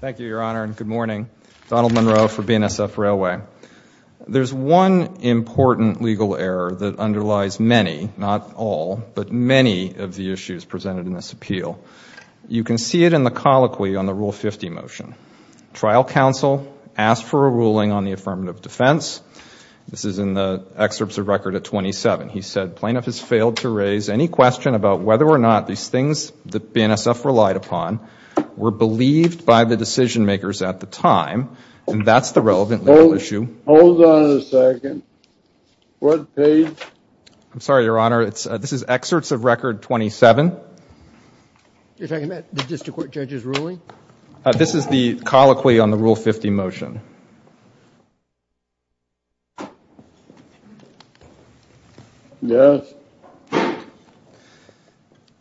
Thank you, Your Honor, and good morning. Donald Monroe for BNSF Railway. There's one important legal error that underlies many, not all, but many of the issues presented in this appeal. You can see it in the colloquy on the Rule 50 motion. Trial counsel asked for a ruling on the affirmative defense. This is in the excerpts of record at 27. He said, plaintiff has failed to raise any question about whether or not these things that BNSF relied upon were believed by the decision-makers at the time, and that's the relevant legal issue. Hold on a second. What page? I'm sorry, Your Honor, it's, this is excerpts of record 27. You're talking about the district court judge's ruling? This is the colloquy on the Rule 50 motion. Yes.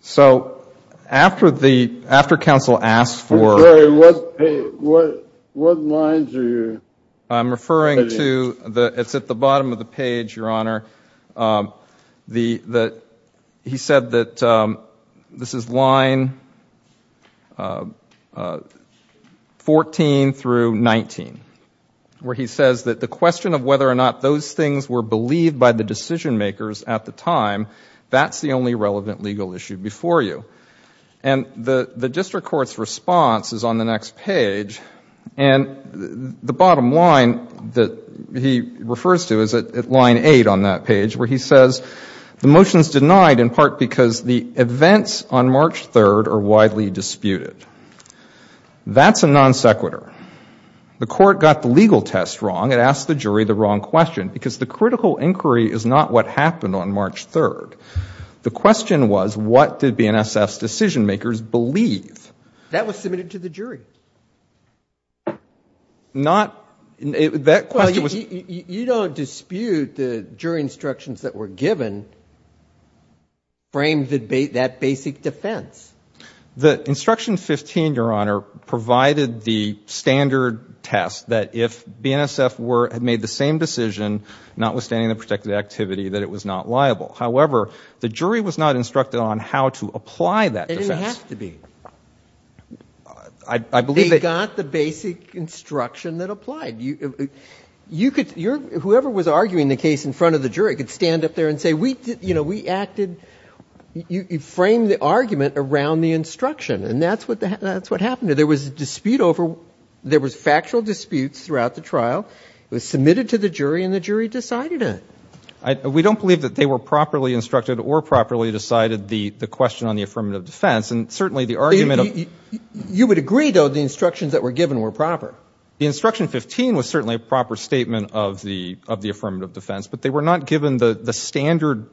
So, after the, after counsel asked for... I'm sorry, what page, what lines are you... I'm referring to the, it's at the bottom of the page, Your Honor, the, that he said that this is line 14 through 19, where he says that the question of whether or not those things were believed by the decision-makers at the time, that's the only relevant legal issue before you. And the, the district court's response is on the next page, and the bottom line that he refers to is at line 8 on that page, where he says the motion's denied in part because the events on March 3rd are widely disputed. That's a non sequitur. The court got the legal test wrong. It asked the jury the wrong question, because the critical inquiry is not what happened on March 3rd. The question was, what did BNSF's decision-makers believe? That was submitted to the jury. Not, that question was... You don't dispute the jury instructions that were given to frame the debate, that basic defense. The instruction 15, Your Honor, provided the standard test that if BNSF were, had made the same decision, notwithstanding the protected activity, that it was not liable. However, the jury was not instructed on how to apply that defense. It didn't have to be. I, I believe that... They got the basic instruction that applied. You, you could, whoever was arguing the case in front of the jury could stand up there and say, we did, you know, we acted, you framed the argument around the instruction, and that's what, that's what happened. There was a dispute over, there was factual disputes throughout the trial. It was submitted to the jury, and the jury decided it. I, we don't believe that they were properly instructed or properly decided the, the question on the affirmative defense, and certainly the argument of... You would agree, though, the instructions that were given were proper. The instruction 15 was certainly a proper statement of the, of the affirmative defense, but they were not given the, the standard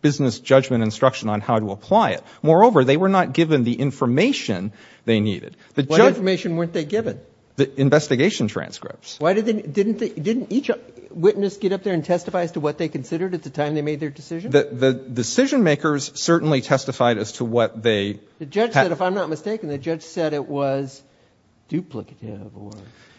business judgment instruction on how to apply it. Moreover, they were not given the information they needed. The judge... What information weren't they given? The investigation transcripts. Why did they, didn't they, didn't each witness get up there and testify as to what they considered at the time they made their decision? The, the decision makers certainly testified as to what they... The judge said, if I'm not mistaken, the judge said it was duplicative, or...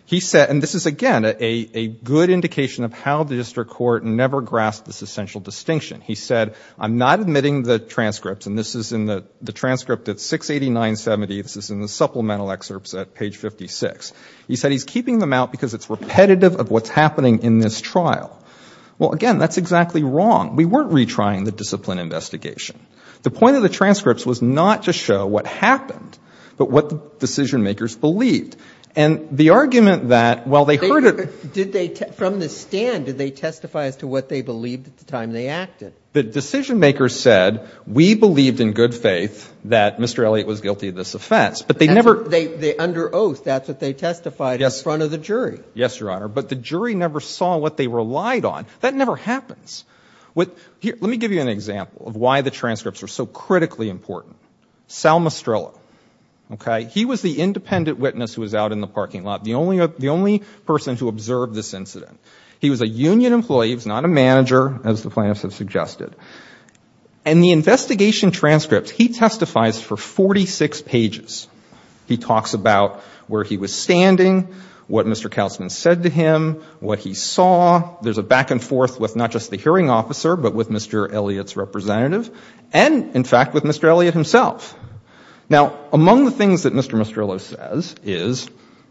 He said, and this is, again, a, a good indication of how the district court never grasped this essential distinction. He said, I'm not admitting the transcripts, and this is in the, the transcript at 689.70, this is in the supplemental excerpts at page 56. He said he's keeping them out because it's repetitive of what's happening in this trial. Well, again, that's exactly wrong. We weren't retrying the discipline investigation. The point of the transcripts was not to show what happened, but what the decision makers believed. And the argument that, well, they heard it... Did they, from the stand, did they testify as to what they believed at the time they acted? The decision makers said, we believed in good faith that Mr. Elliott was guilty of this offense, but they never... They, they, under oath, that's what they testified in front of the jury. Yes, Your Honor, but the jury never saw what they relied on. That never happens. What, here, let me give you an example of why the transcripts are so critically important. Sal Mastrella, okay? He was the independent witness who was out in the parking lot. The only, the only person to observe this incident. He was a union employee, he was not a manager, as the plaintiffs have suggested. And the investigation transcript, he testifies for 46 pages. He talks about where he was standing, what Mr. Kautzman said to him, what he saw. There's a back and forth with not just the hearing officer, but with Mr. Elliott's representative, and, in fact, with Mr. Elliott himself. Now, among the things that Mr. Mastrella says is,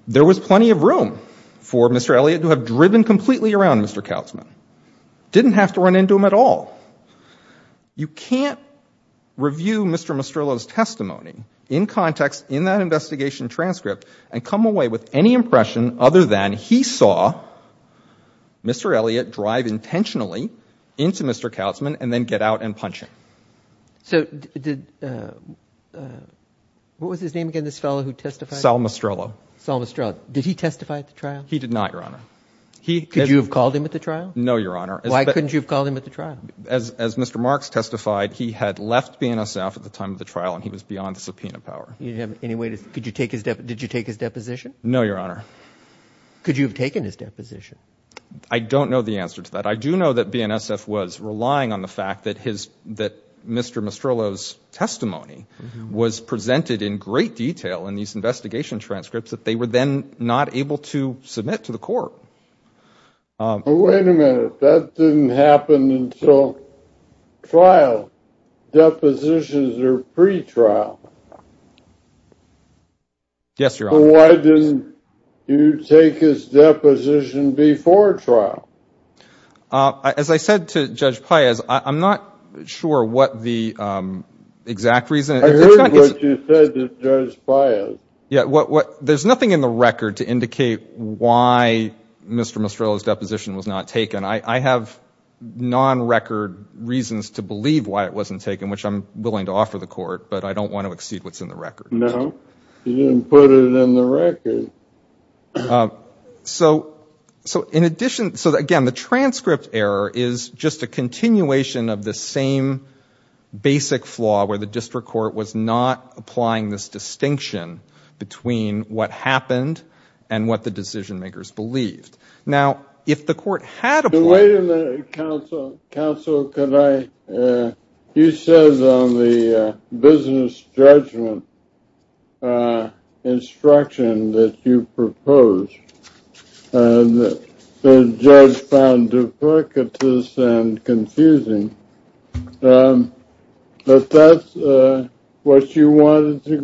there was plenty of room for Mr. Elliott to have driven completely around Mr. Kautzman. Didn't have to run into him at all. You can't review Mr. Mastrella's testimony in context, in that investigation transcript, and come away with any impression other than he saw Mr. Elliott drive intentionally into Mr. Kautzman, and then get out and punch him. So, did, what was his name again, this fellow who testified? Sal Mastrella. Sal Mastrella. Did he testify at the trial? He did not, Your Honor. He, could you have called him at the trial? No, Your Honor. Why couldn't you have called him at the trial? As, as Mr. Marks testified, he had left BNSF at the time of the trial, and he was beyond the subpoena power. You didn't have any way to, could you take his, did you take his deposition? No, Your Honor. Could you have taken his deposition? I don't know the answer to that. I do know that BNSF was relying on the fact that his, that Mr. Mastrella's testimony was presented in great detail in these investigation transcripts, that they were then not able to submit to the court. Wait a minute, that didn't happen until trial. Depositions are pre-trial. Yes, pre-trial. As I said to Judge Paez, I'm not sure what the exact reason. I heard what you said to Judge Paez. Yeah, what, what, there's nothing in the record to indicate why Mr. Mastrella's deposition was not taken. I have non-record reasons to believe why it wasn't taken, which I'm willing to offer the court, but I don't want to exceed what's in the record. No, you didn't put it in the record. So, so in addition, so again, the transcript error is just a continuation of the same basic flaw where the district court was not applying this distinction between what happened and what the decision-makers believed. Now, if the court had applied... Wait a minute, counsel, counsel, could I, you said on the business judgment instruction that you proposed, the judge found duplicitous and confusing, but that's what you wanted to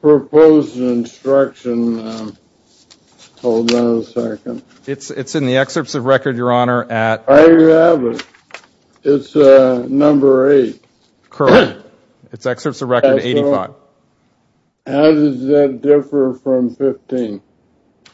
propose in instruction. Hold on a second. It's, it's in the excerpts of record, your Honor, at... I have it. It's number 8. Correct. It's excerpts of record 85. How does that differ from 15?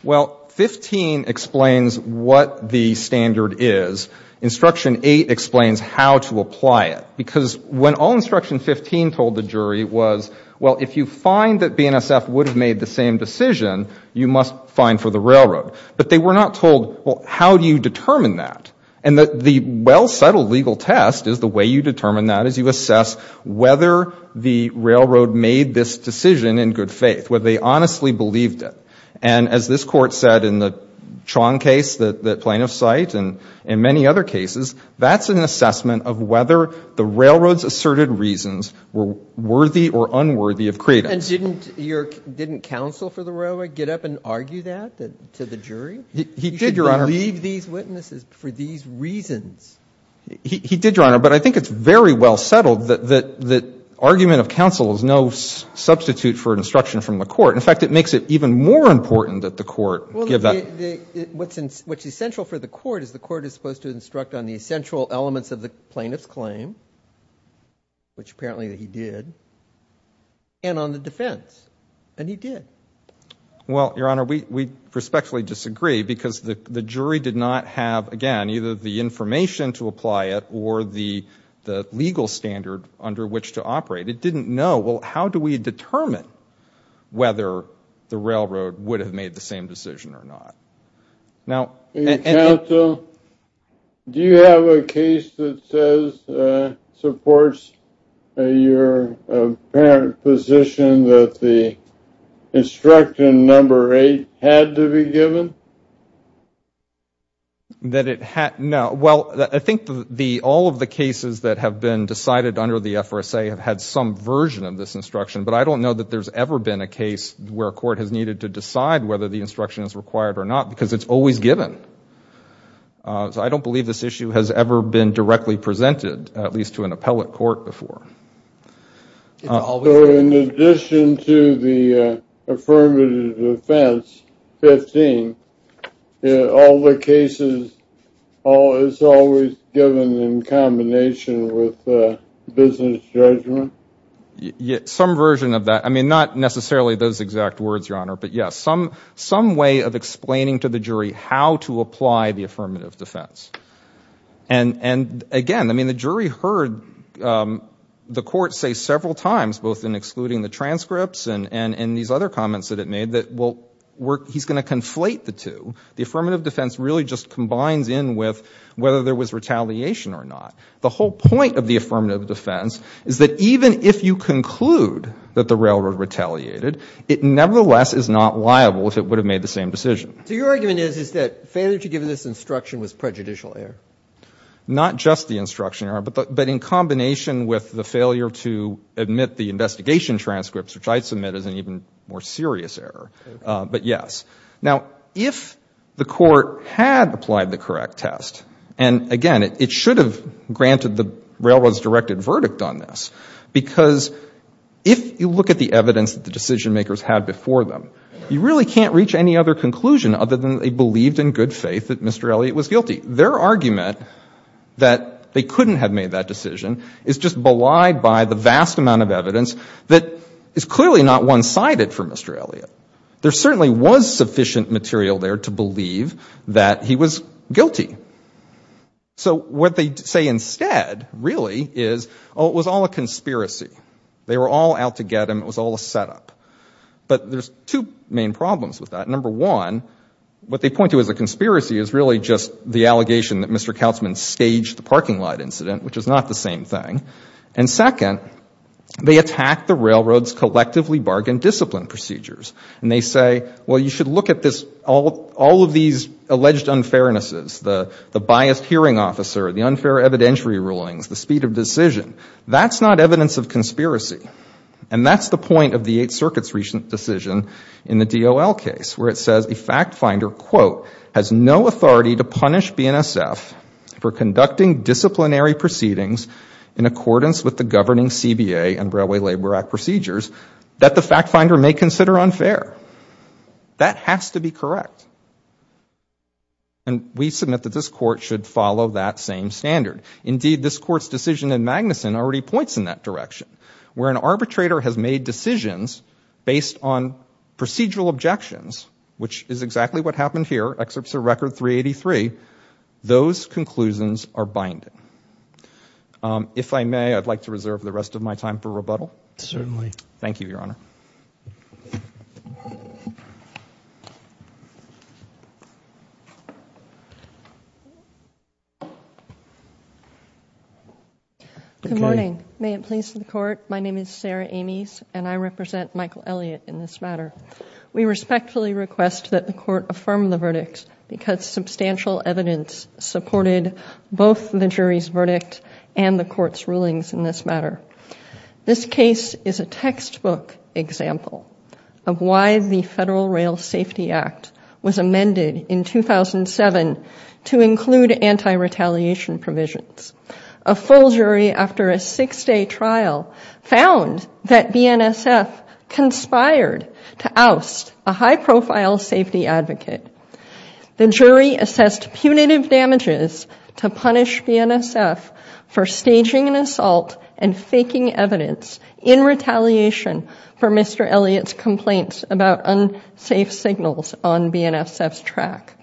Well, 15 explains what the standard is. Instruction 8 explains how to apply it, because when all instruction 15 told the jury was, well, if you find that BNSF would have made the same decision, you must fine for the railroad. But they were not told, well, how do you determine that? And the well-settled legal test is the way you determine that is you assess whether the railroad made this decision in good faith, whether they honestly believed it. And as this Court said in the Chong case, the plaintiff's site, and in many other cases, that's an assessment of whether the And didn't your, didn't counsel for the railroad get up and argue that to the jury? He did, your Honor. You should believe these witnesses for these reasons. He, he did, your Honor, but I think it's very well settled that, that, that argument of counsel is no substitute for instruction from the Court. In fact, it makes it even more important that the Court give that... Well, the, the, what's in, what's essential for the Court is the and on the defense. And he did. Well, your Honor, we, we respectfully disagree because the, the jury did not have, again, either the information to apply it or the, the legal standard under which to operate. It didn't know, well, how do we determine whether the railroad would have made the same decision or not? Now... Is your apparent position that the instruction number eight had to be given? That it had, no, well, I think the, all of the cases that have been decided under the FRSA have had some version of this instruction, but I don't know that there's ever been a case where a Court has needed to decide whether the instruction is required or not because it's always given. So I don't believe this issue has ever been directly presented, at least to an appellate court before. So in addition to the affirmative defense, 15, all the cases, all, it's always given in combination with business judgment? Some version of that. I mean, not necessarily those exact words, your Honor, but yes, some, some way of explaining to the jury how to apply the affirmative defense. And, and again, I mean, the jury heard the Court say several times, both in excluding the transcripts and, and, and these other comments that it made that, well, we're, he's going to conflate the two. The affirmative defense really just combines in with whether there was Even if you conclude that the railroad retaliated, it nevertheless is not liable if it would have made the same decision. So your argument is, is that failure to give this instruction was prejudicial error? Not just the instruction error, but the, but in combination with the failure to admit the investigation transcripts, which I'd submit as an even more serious error, but yes. Now, if the Court had applied the correct test, and again, it, it should have granted the railroad's directed verdict on this, because if you look at the evidence that the decision makers had before them, you really can't reach any other conclusion other than they believed in good faith that Mr. Elliott was guilty. Their argument that they couldn't have made that decision is just belied by the vast amount of evidence that is clearly not one-sided for Mr. Elliott. There certainly was sufficient material there to believe that he was guilty. So what they say instead, really, is, oh, it was all a conspiracy. They were all out to get him. It was all a setup. But there's two main problems with that. Number one, what they point to as a conspiracy is really just the allegation that Mr. Kautzman staged the parking lot incident, which is not the same thing. And second, they attack the railroad's collectively bargained discipline procedures. And they say, well, you should look at this, all, all of these alleged unfairnesses, the biased hearing officer, the unfair evidentiary rulings, the speed of decision, that's not evidence of conspiracy. And that's the point of the Eighth Circuit's recent decision in the DOL case, where it says a fact finder, quote, has no authority to punish BNSF for conducting disciplinary proceedings in accordance with the governing CBA and Railway Labor Act procedures that the fact finder may consider unfair. That has to be correct. And we submit that this Court should follow that same standard. Indeed, this Court's decision in Magnuson already points in that direction, where an arbitrator has made decisions based on procedural objections, which is exactly what happened here, excerpts of Record 383. Those conclusions are binding. If I may, I'd like to reserve the rest of my time for rebuttal. Certainly. Thank you, Your Honor. Good morning. May it please the Court, my name is Sarah Ames, and I represent Michael Elliott in this matter. We respectfully request that the This is a textbook example of why the Federal Rail Safety Act was amended in 2007 to include anti-retaliation provisions. A full jury after a six-day trial found that BNSF conspired to oust a high-profile safety advocate. The jury assessed punitive damages to punish BNSF for staging an anti-retaliation for Mr. Elliott's complaints about unsafe signals on BNSF's track.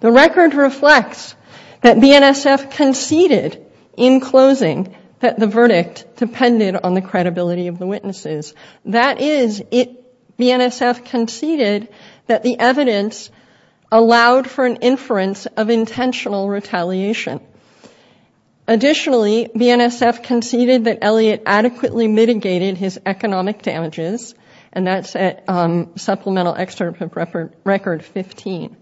The record reflects that BNSF conceded in closing that the verdict depended on the credibility of the witnesses. That is, BNSF conceded that the evidence allowed for an inference of intentional retaliation. Additionally, BNSF conceded that Elliott adequately mitigated his economic damages, and that's at supplemental excerpt of Record 15.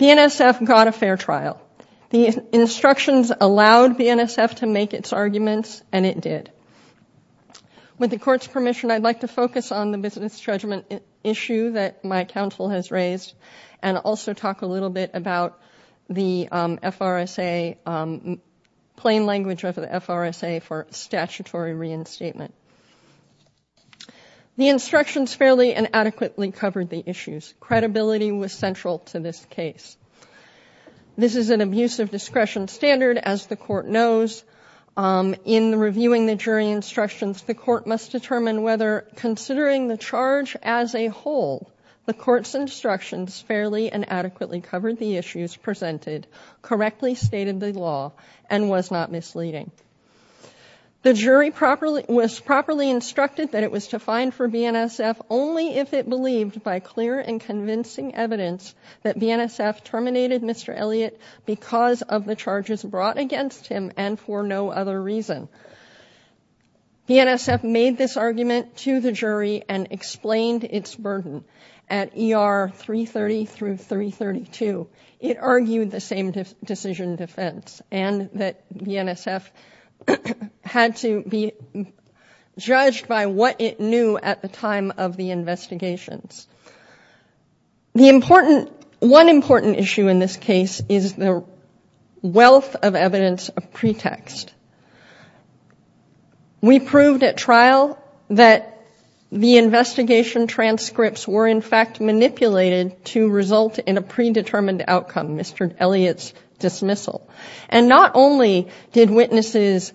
BNSF got a fair trial. The instructions allowed BNSF to make its arguments, and it did. With the Court's permission, I'd like to focus on the business judgment issue that my counsel has raised, and also talk a little bit about the FRSA, plain language of the FRSA for statutory reinstatement. The instructions fairly and adequately covered the issues. Credibility was central to this case. This is an abuse of discretion standard, as the Court knows. In reviewing the jury instructions, the Court must determine whether, considering the charge as a whole, the Court's instructions fairly and adequately covered the issues presented, correctly stated the law, and was not misleading. The jury was properly instructed that it was to find for BNSF only if it believed, by clear and BNSF made this argument to the jury and explained its burden at ER 330 through 332. It argued the same decision defense, and that BNSF had to be judged by what it knew at the time of the investigations. One important issue in this case is the wealth of evidence of pretext. We proved at trial that the investigation transcripts were in fact manipulated to result in a predetermined outcome, Mr. Elliot's dismissal. And not only did witnesses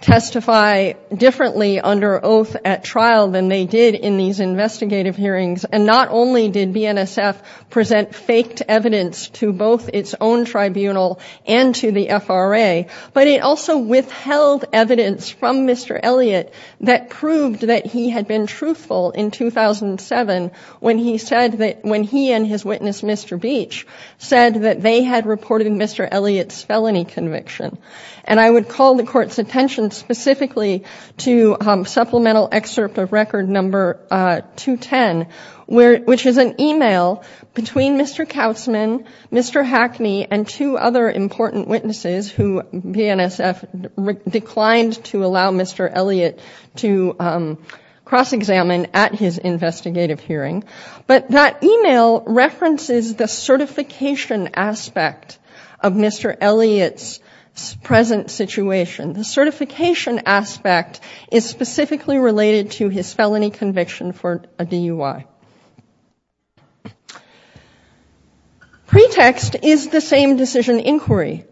testify differently under oath at trial than they did in these investigative hearings, and not only did BNSF present faked evidence to both its own tribunal and to the FRA, but it also withheld evidence from Mr. Elliot that proved that he had been truthful in 2007 when he said that, when he and his witness, Mr. Beach, said that they had reported Mr. Elliot's felonies. And I would call the court's attention specifically to supplemental excerpt of record number 210, which is an email between Mr. Kautzman, Mr. Hackney, and two other important witnesses who BNSF declined to allow Mr. Elliot to cross-examine at his investigative hearing. But that email references the certification aspect of Mr. Elliot's present situation. The certification aspect is specifically related to his felony conviction for a DUI. Pretext is the same decision inquiry.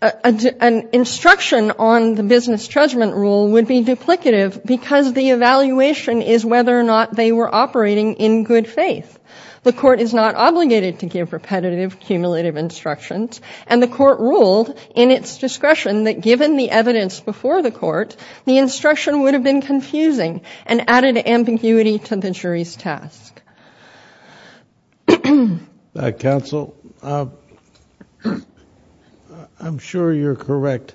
An instruction on the business judgment rule would be duplicative because the evaluation is whether or not they were operating in good faith. The court is not obligated to give repetitive, cumulative instructions, and the court ruled in its discretion that, given the evidence before the court, the instruction would have been confusing and added ambiguity to the jury's task. Counsel, I'm sure you're correct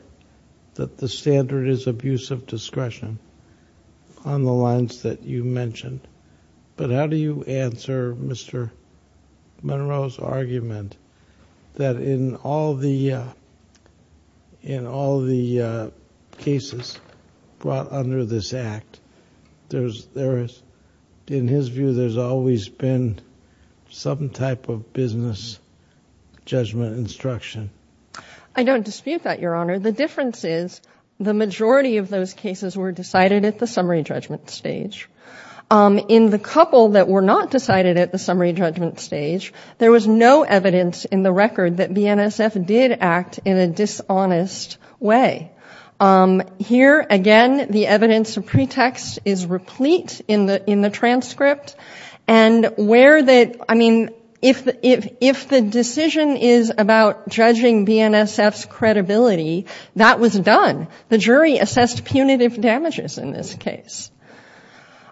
that the standard is abuse of discretion on the lines that you mentioned. But how do you answer Mr. Monroe's argument that in all the cases brought under this Act, in his view, there's always been some type of business judgment instruction? I don't dispute that, Your Honor. The difference is the majority of those cases were decided at the summary judgment stage. In the couple that were not decided at the summary judgment stage, there was no evidence in the record that BNSF did act in a dishonest way. Here, again, the evidence of pretext is replete in the transcript, and if the decision is about judging BNSF's credibility, that was done. The jury assessed punitive damages in this case.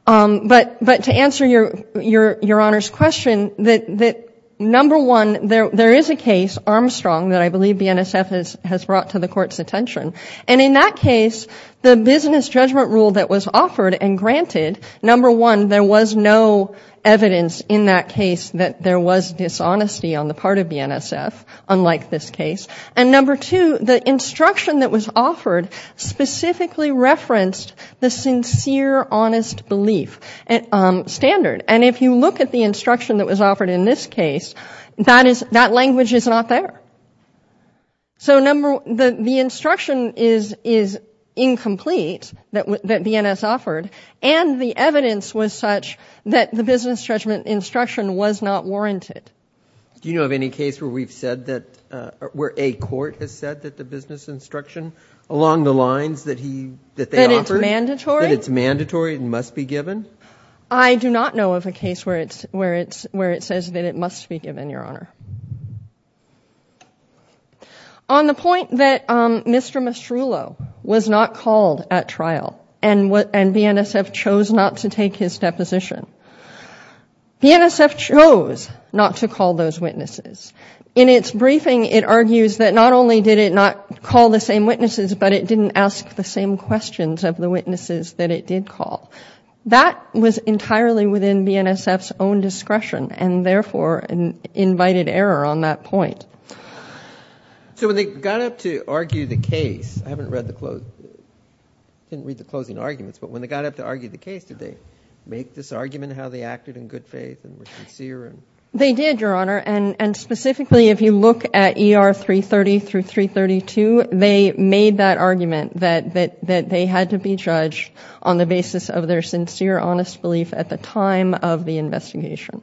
But to answer Your Honor's question, number one, there is a case, Armstrong, that I believe BNSF has brought to the court's attention. And in that case, the business judgment rule that was offered and granted, number one, there was no evidence in that case that there was dishonesty on the part of BNSF, unlike this case. And number two, the instruction that was offered specifically referenced the sincere, honest belief standard. And if you look at the instruction that was offered in this case, that language is not there. So the instruction is incomplete that BNSF offered, and the evidence was such that the business judgment instruction was not warranted. Do you know of any case where we've said that, where a court has said that the business instruction along the lines that he, that they offered? That it's mandatory? That it's mandatory and must be given? I do not know of a case where it's, where it's, where it says that it must be given, Your Honor. On the point that Mr. Mastrullo was not called at trial, and what, and BNSF chose not to take his deposition. BNSF chose not to call those witnesses. In its briefing, it argues that not only did it not call the same witnesses, but it didn't ask the same questions of the witnesses that it did call. That was entirely within BNSF's own discretion, and therefore an invited error on that point. So when they got up to argue the case, I haven't read the, I didn't read the closing arguments, but when they got up to argue the case, did they make this argument how they acted in good faith and were sincere? They did, Your Honor, and, and specifically if you look at ER 330 through 332, they made that argument that, that, that they had to be judged on the basis of their sincere, honest belief at the time of the investigation.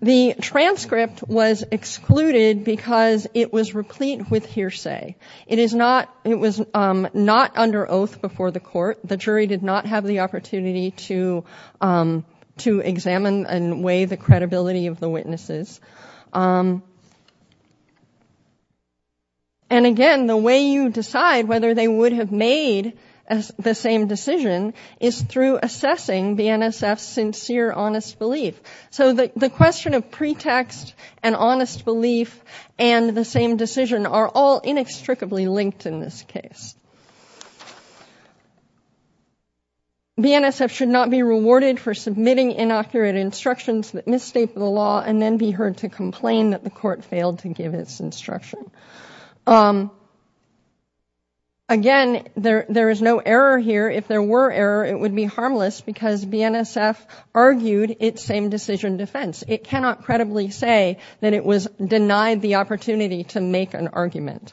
The transcript was excluded because it was replete with hearsay. It is not, it was not under oath before the court. The jury did not have the opportunity to, to examine and weigh the credibility of the witnesses. And again, the way you decide whether they would have made the same decision is through assessing BNSF's sincere, honest belief. So the, the question of pretext and honest belief and the same decision are all inextricably linked in this case. BNSF should not be rewarded for submitting inaccurate instructions that misstate the law and then be heard to complain that the court failed to give its instruction. Again, there, there is no error here. If there were error, it would be harmless because BNSF argued its same decision defense. It cannot credibly say that it was denied the opportunity to make an argument.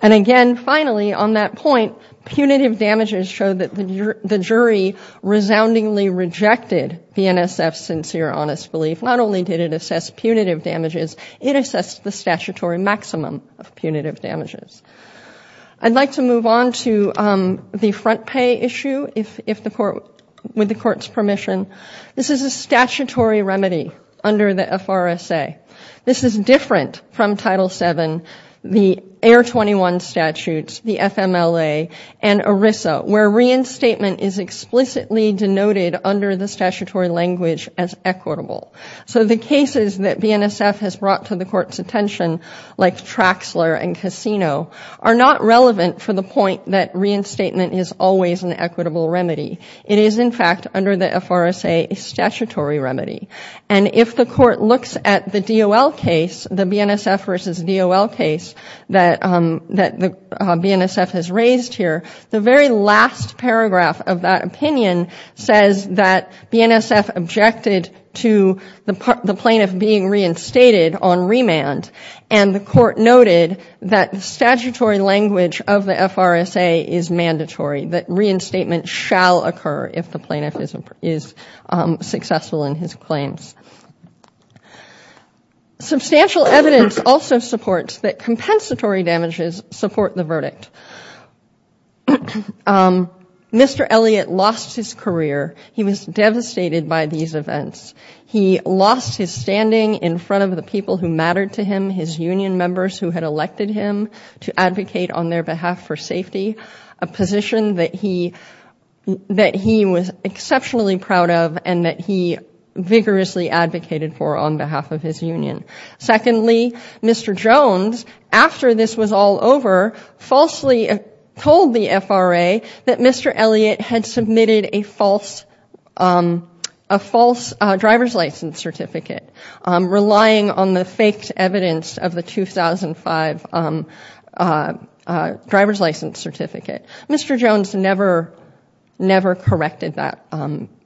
And again, finally, on that point, punitive damages show that the jury resoundingly rejected BNSF's sincere, honest belief. Not only did it assess punitive damages, it assessed the statutory maximum. of punitive damages. I'd like to move on to the front pay issue, if, if the court, with the court's permission. This is a statutory remedy under the FRSA. This is different from Title VII, the Air 21 statutes, the FMLA, and ERISA, where reinstatement is explicitly denoted under the statutory language as equitable. So the cases that BNSF has brought to the court's attention, like Traxler and Cassino, are not relevant for the point that reinstatement is always an equitable remedy. It is, in fact, under the FRSA, a statutory remedy. And if the court looks at the DOL case, the BNSF versus DOL case that, that BNSF has raised here, the very last paragraph of that opinion says that BNSF objected to the plaintiff being reinstated on remand. And the court noted that the statutory language of the FRSA is mandatory, that reinstatement shall occur if the plaintiff is, is successful in his claims. Substantial evidence also supports that compensatory damages support the verdict. Mr. Elliott lost his career. He was devastated by these events. He lost his standing in front of the people who mattered to him, his union members who had elected him to advocate on their behalf for safety, a position that he, that he was exceptionally proud of and that he vigorously advocated for on behalf of his union. Secondly, Mr. Jones, after this was all over, falsely told the FRA that Mr. Elliott had submitted a false, a false driver's license certificate, relying on the faked evidence of the 2005 driver's license certificate. Mr. Jones never, never corrected that,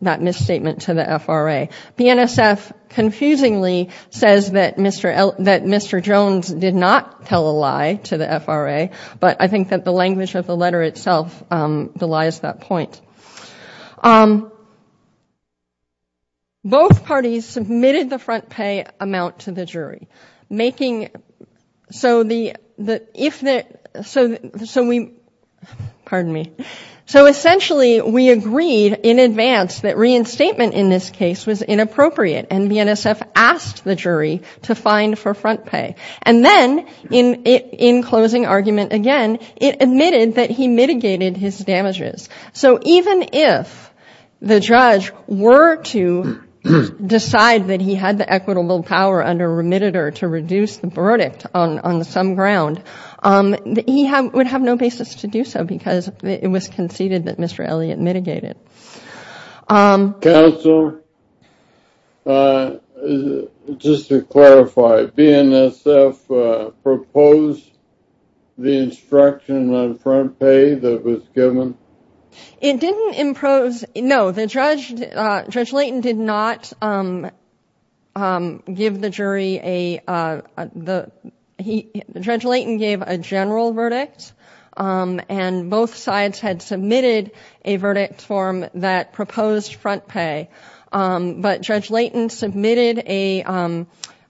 that misstatement to the FRA. BNSF confusingly says that Mr. Jones did not tell a lie to the FRA, but I think that the language of the letter itself belies that point. Both parties submitted the front pay amount to the jury. Making, so the, the, if the, so, so we, pardon me. So essentially we agreed in advance that reinstatement in this case was inappropriate and BNSF asked the jury to fine for front pay. And then in, in closing argument again, it admitted that he mitigated his damages. So even if the judge were to decide that he had the equitable power under remitted or to reduce the verdict on, on some ground, he would have no basis to do so because it was conceded that Mr. Elliott mitigated. Counsel, just to clarify, BNSF proposed the instruction on front pay that was given? It didn't impose, no, the judge, Judge Layton did not give the jury a, the, he, Judge Layton gave a general verdict. And both sides had submitted a verdict form that proposed front pay. But Judge Layton submitted a,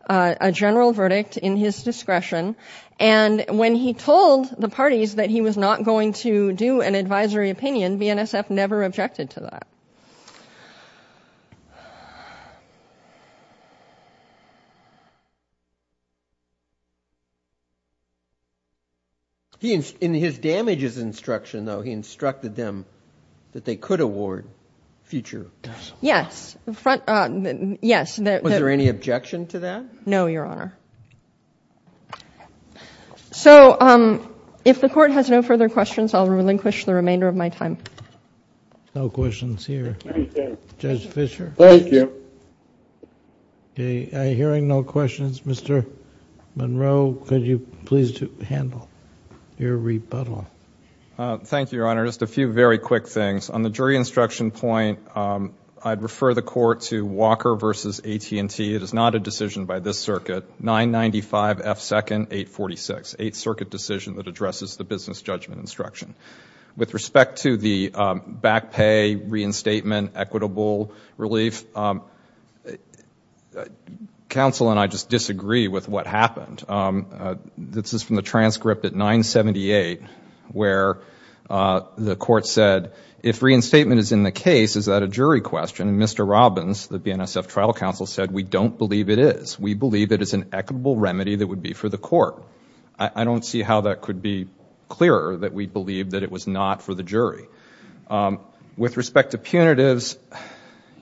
a general verdict in his discretion. And when he told the parties that he was not going to do an advisory opinion, BNSF never objected to that. He, in his damages instruction though, he instructed them that they could award future. Yes. Yes. Was there any objection to that? No, Your Honor. So if the court has no further questions, I'll relinquish the remainder of my time. No questions here. Thank you. Judge Fischer? Thank you. Okay. I'm hearing no questions. Mr. Monroe, could you please handle your rebuttal? Thank you, Your Honor. Just a few very quick things. On the jury instruction point, I'd refer the court to Walker versus AT&T. It is not a decision by this circuit. 995 F. Second, 846. Eight circuit decision that addresses the business judgment instruction. With respect to the back pay, reinstatement, equitable relief, counsel and I just disagree with what happened. This is from the transcript at 978 where the court said, if reinstatement is in the case, is that a jury question? And Mr. Robbins, the BNSF trial counsel, said, we don't believe it is. We believe it is an equitable remedy that would be for the court. I don't see how that could be clearer that we believe that it was not for the jury. With respect to punitives,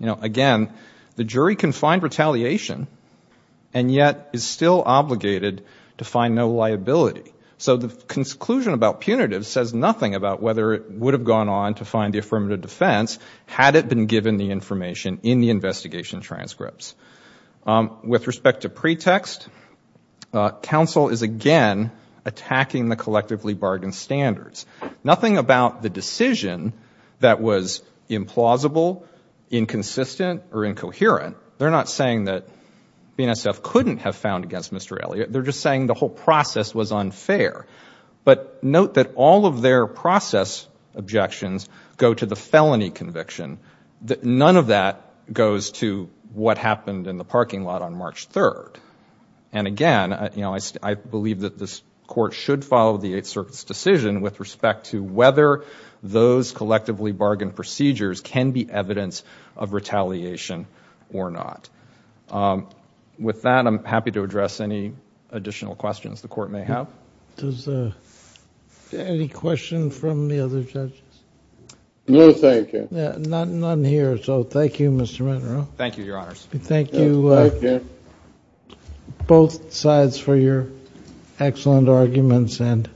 again, the jury can find retaliation and yet is still obligated to find no liability. So the conclusion about punitive says nothing about whether it would have gone on to find the affirmative defense had it been given the information in the investigation transcripts. With respect to pretext, counsel is again attacking the collectively bargained standards. Nothing about the decision that was implausible, inconsistent, or incoherent. They're not saying that BNSF couldn't have found against Mr. Elliott. They're just saying the whole process was unfair. But note that all of their process objections go to the felony conviction. None of that goes to what happened in the parking lot on March 3rd. And again, I believe that this court should follow the Eighth Circuit's decision with respect to whether those collectively bargained procedures can be evidence of retaliation or not. With that, I'm happy to address any additional questions the court may have. Any questions from the other judges? No, thank you. None here, so thank you, Mr. Monroe. Thank you, Your Honors. Thank you, both sides, for your excellent arguments, and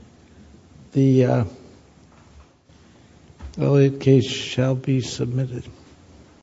the Elliott case shall be submitted.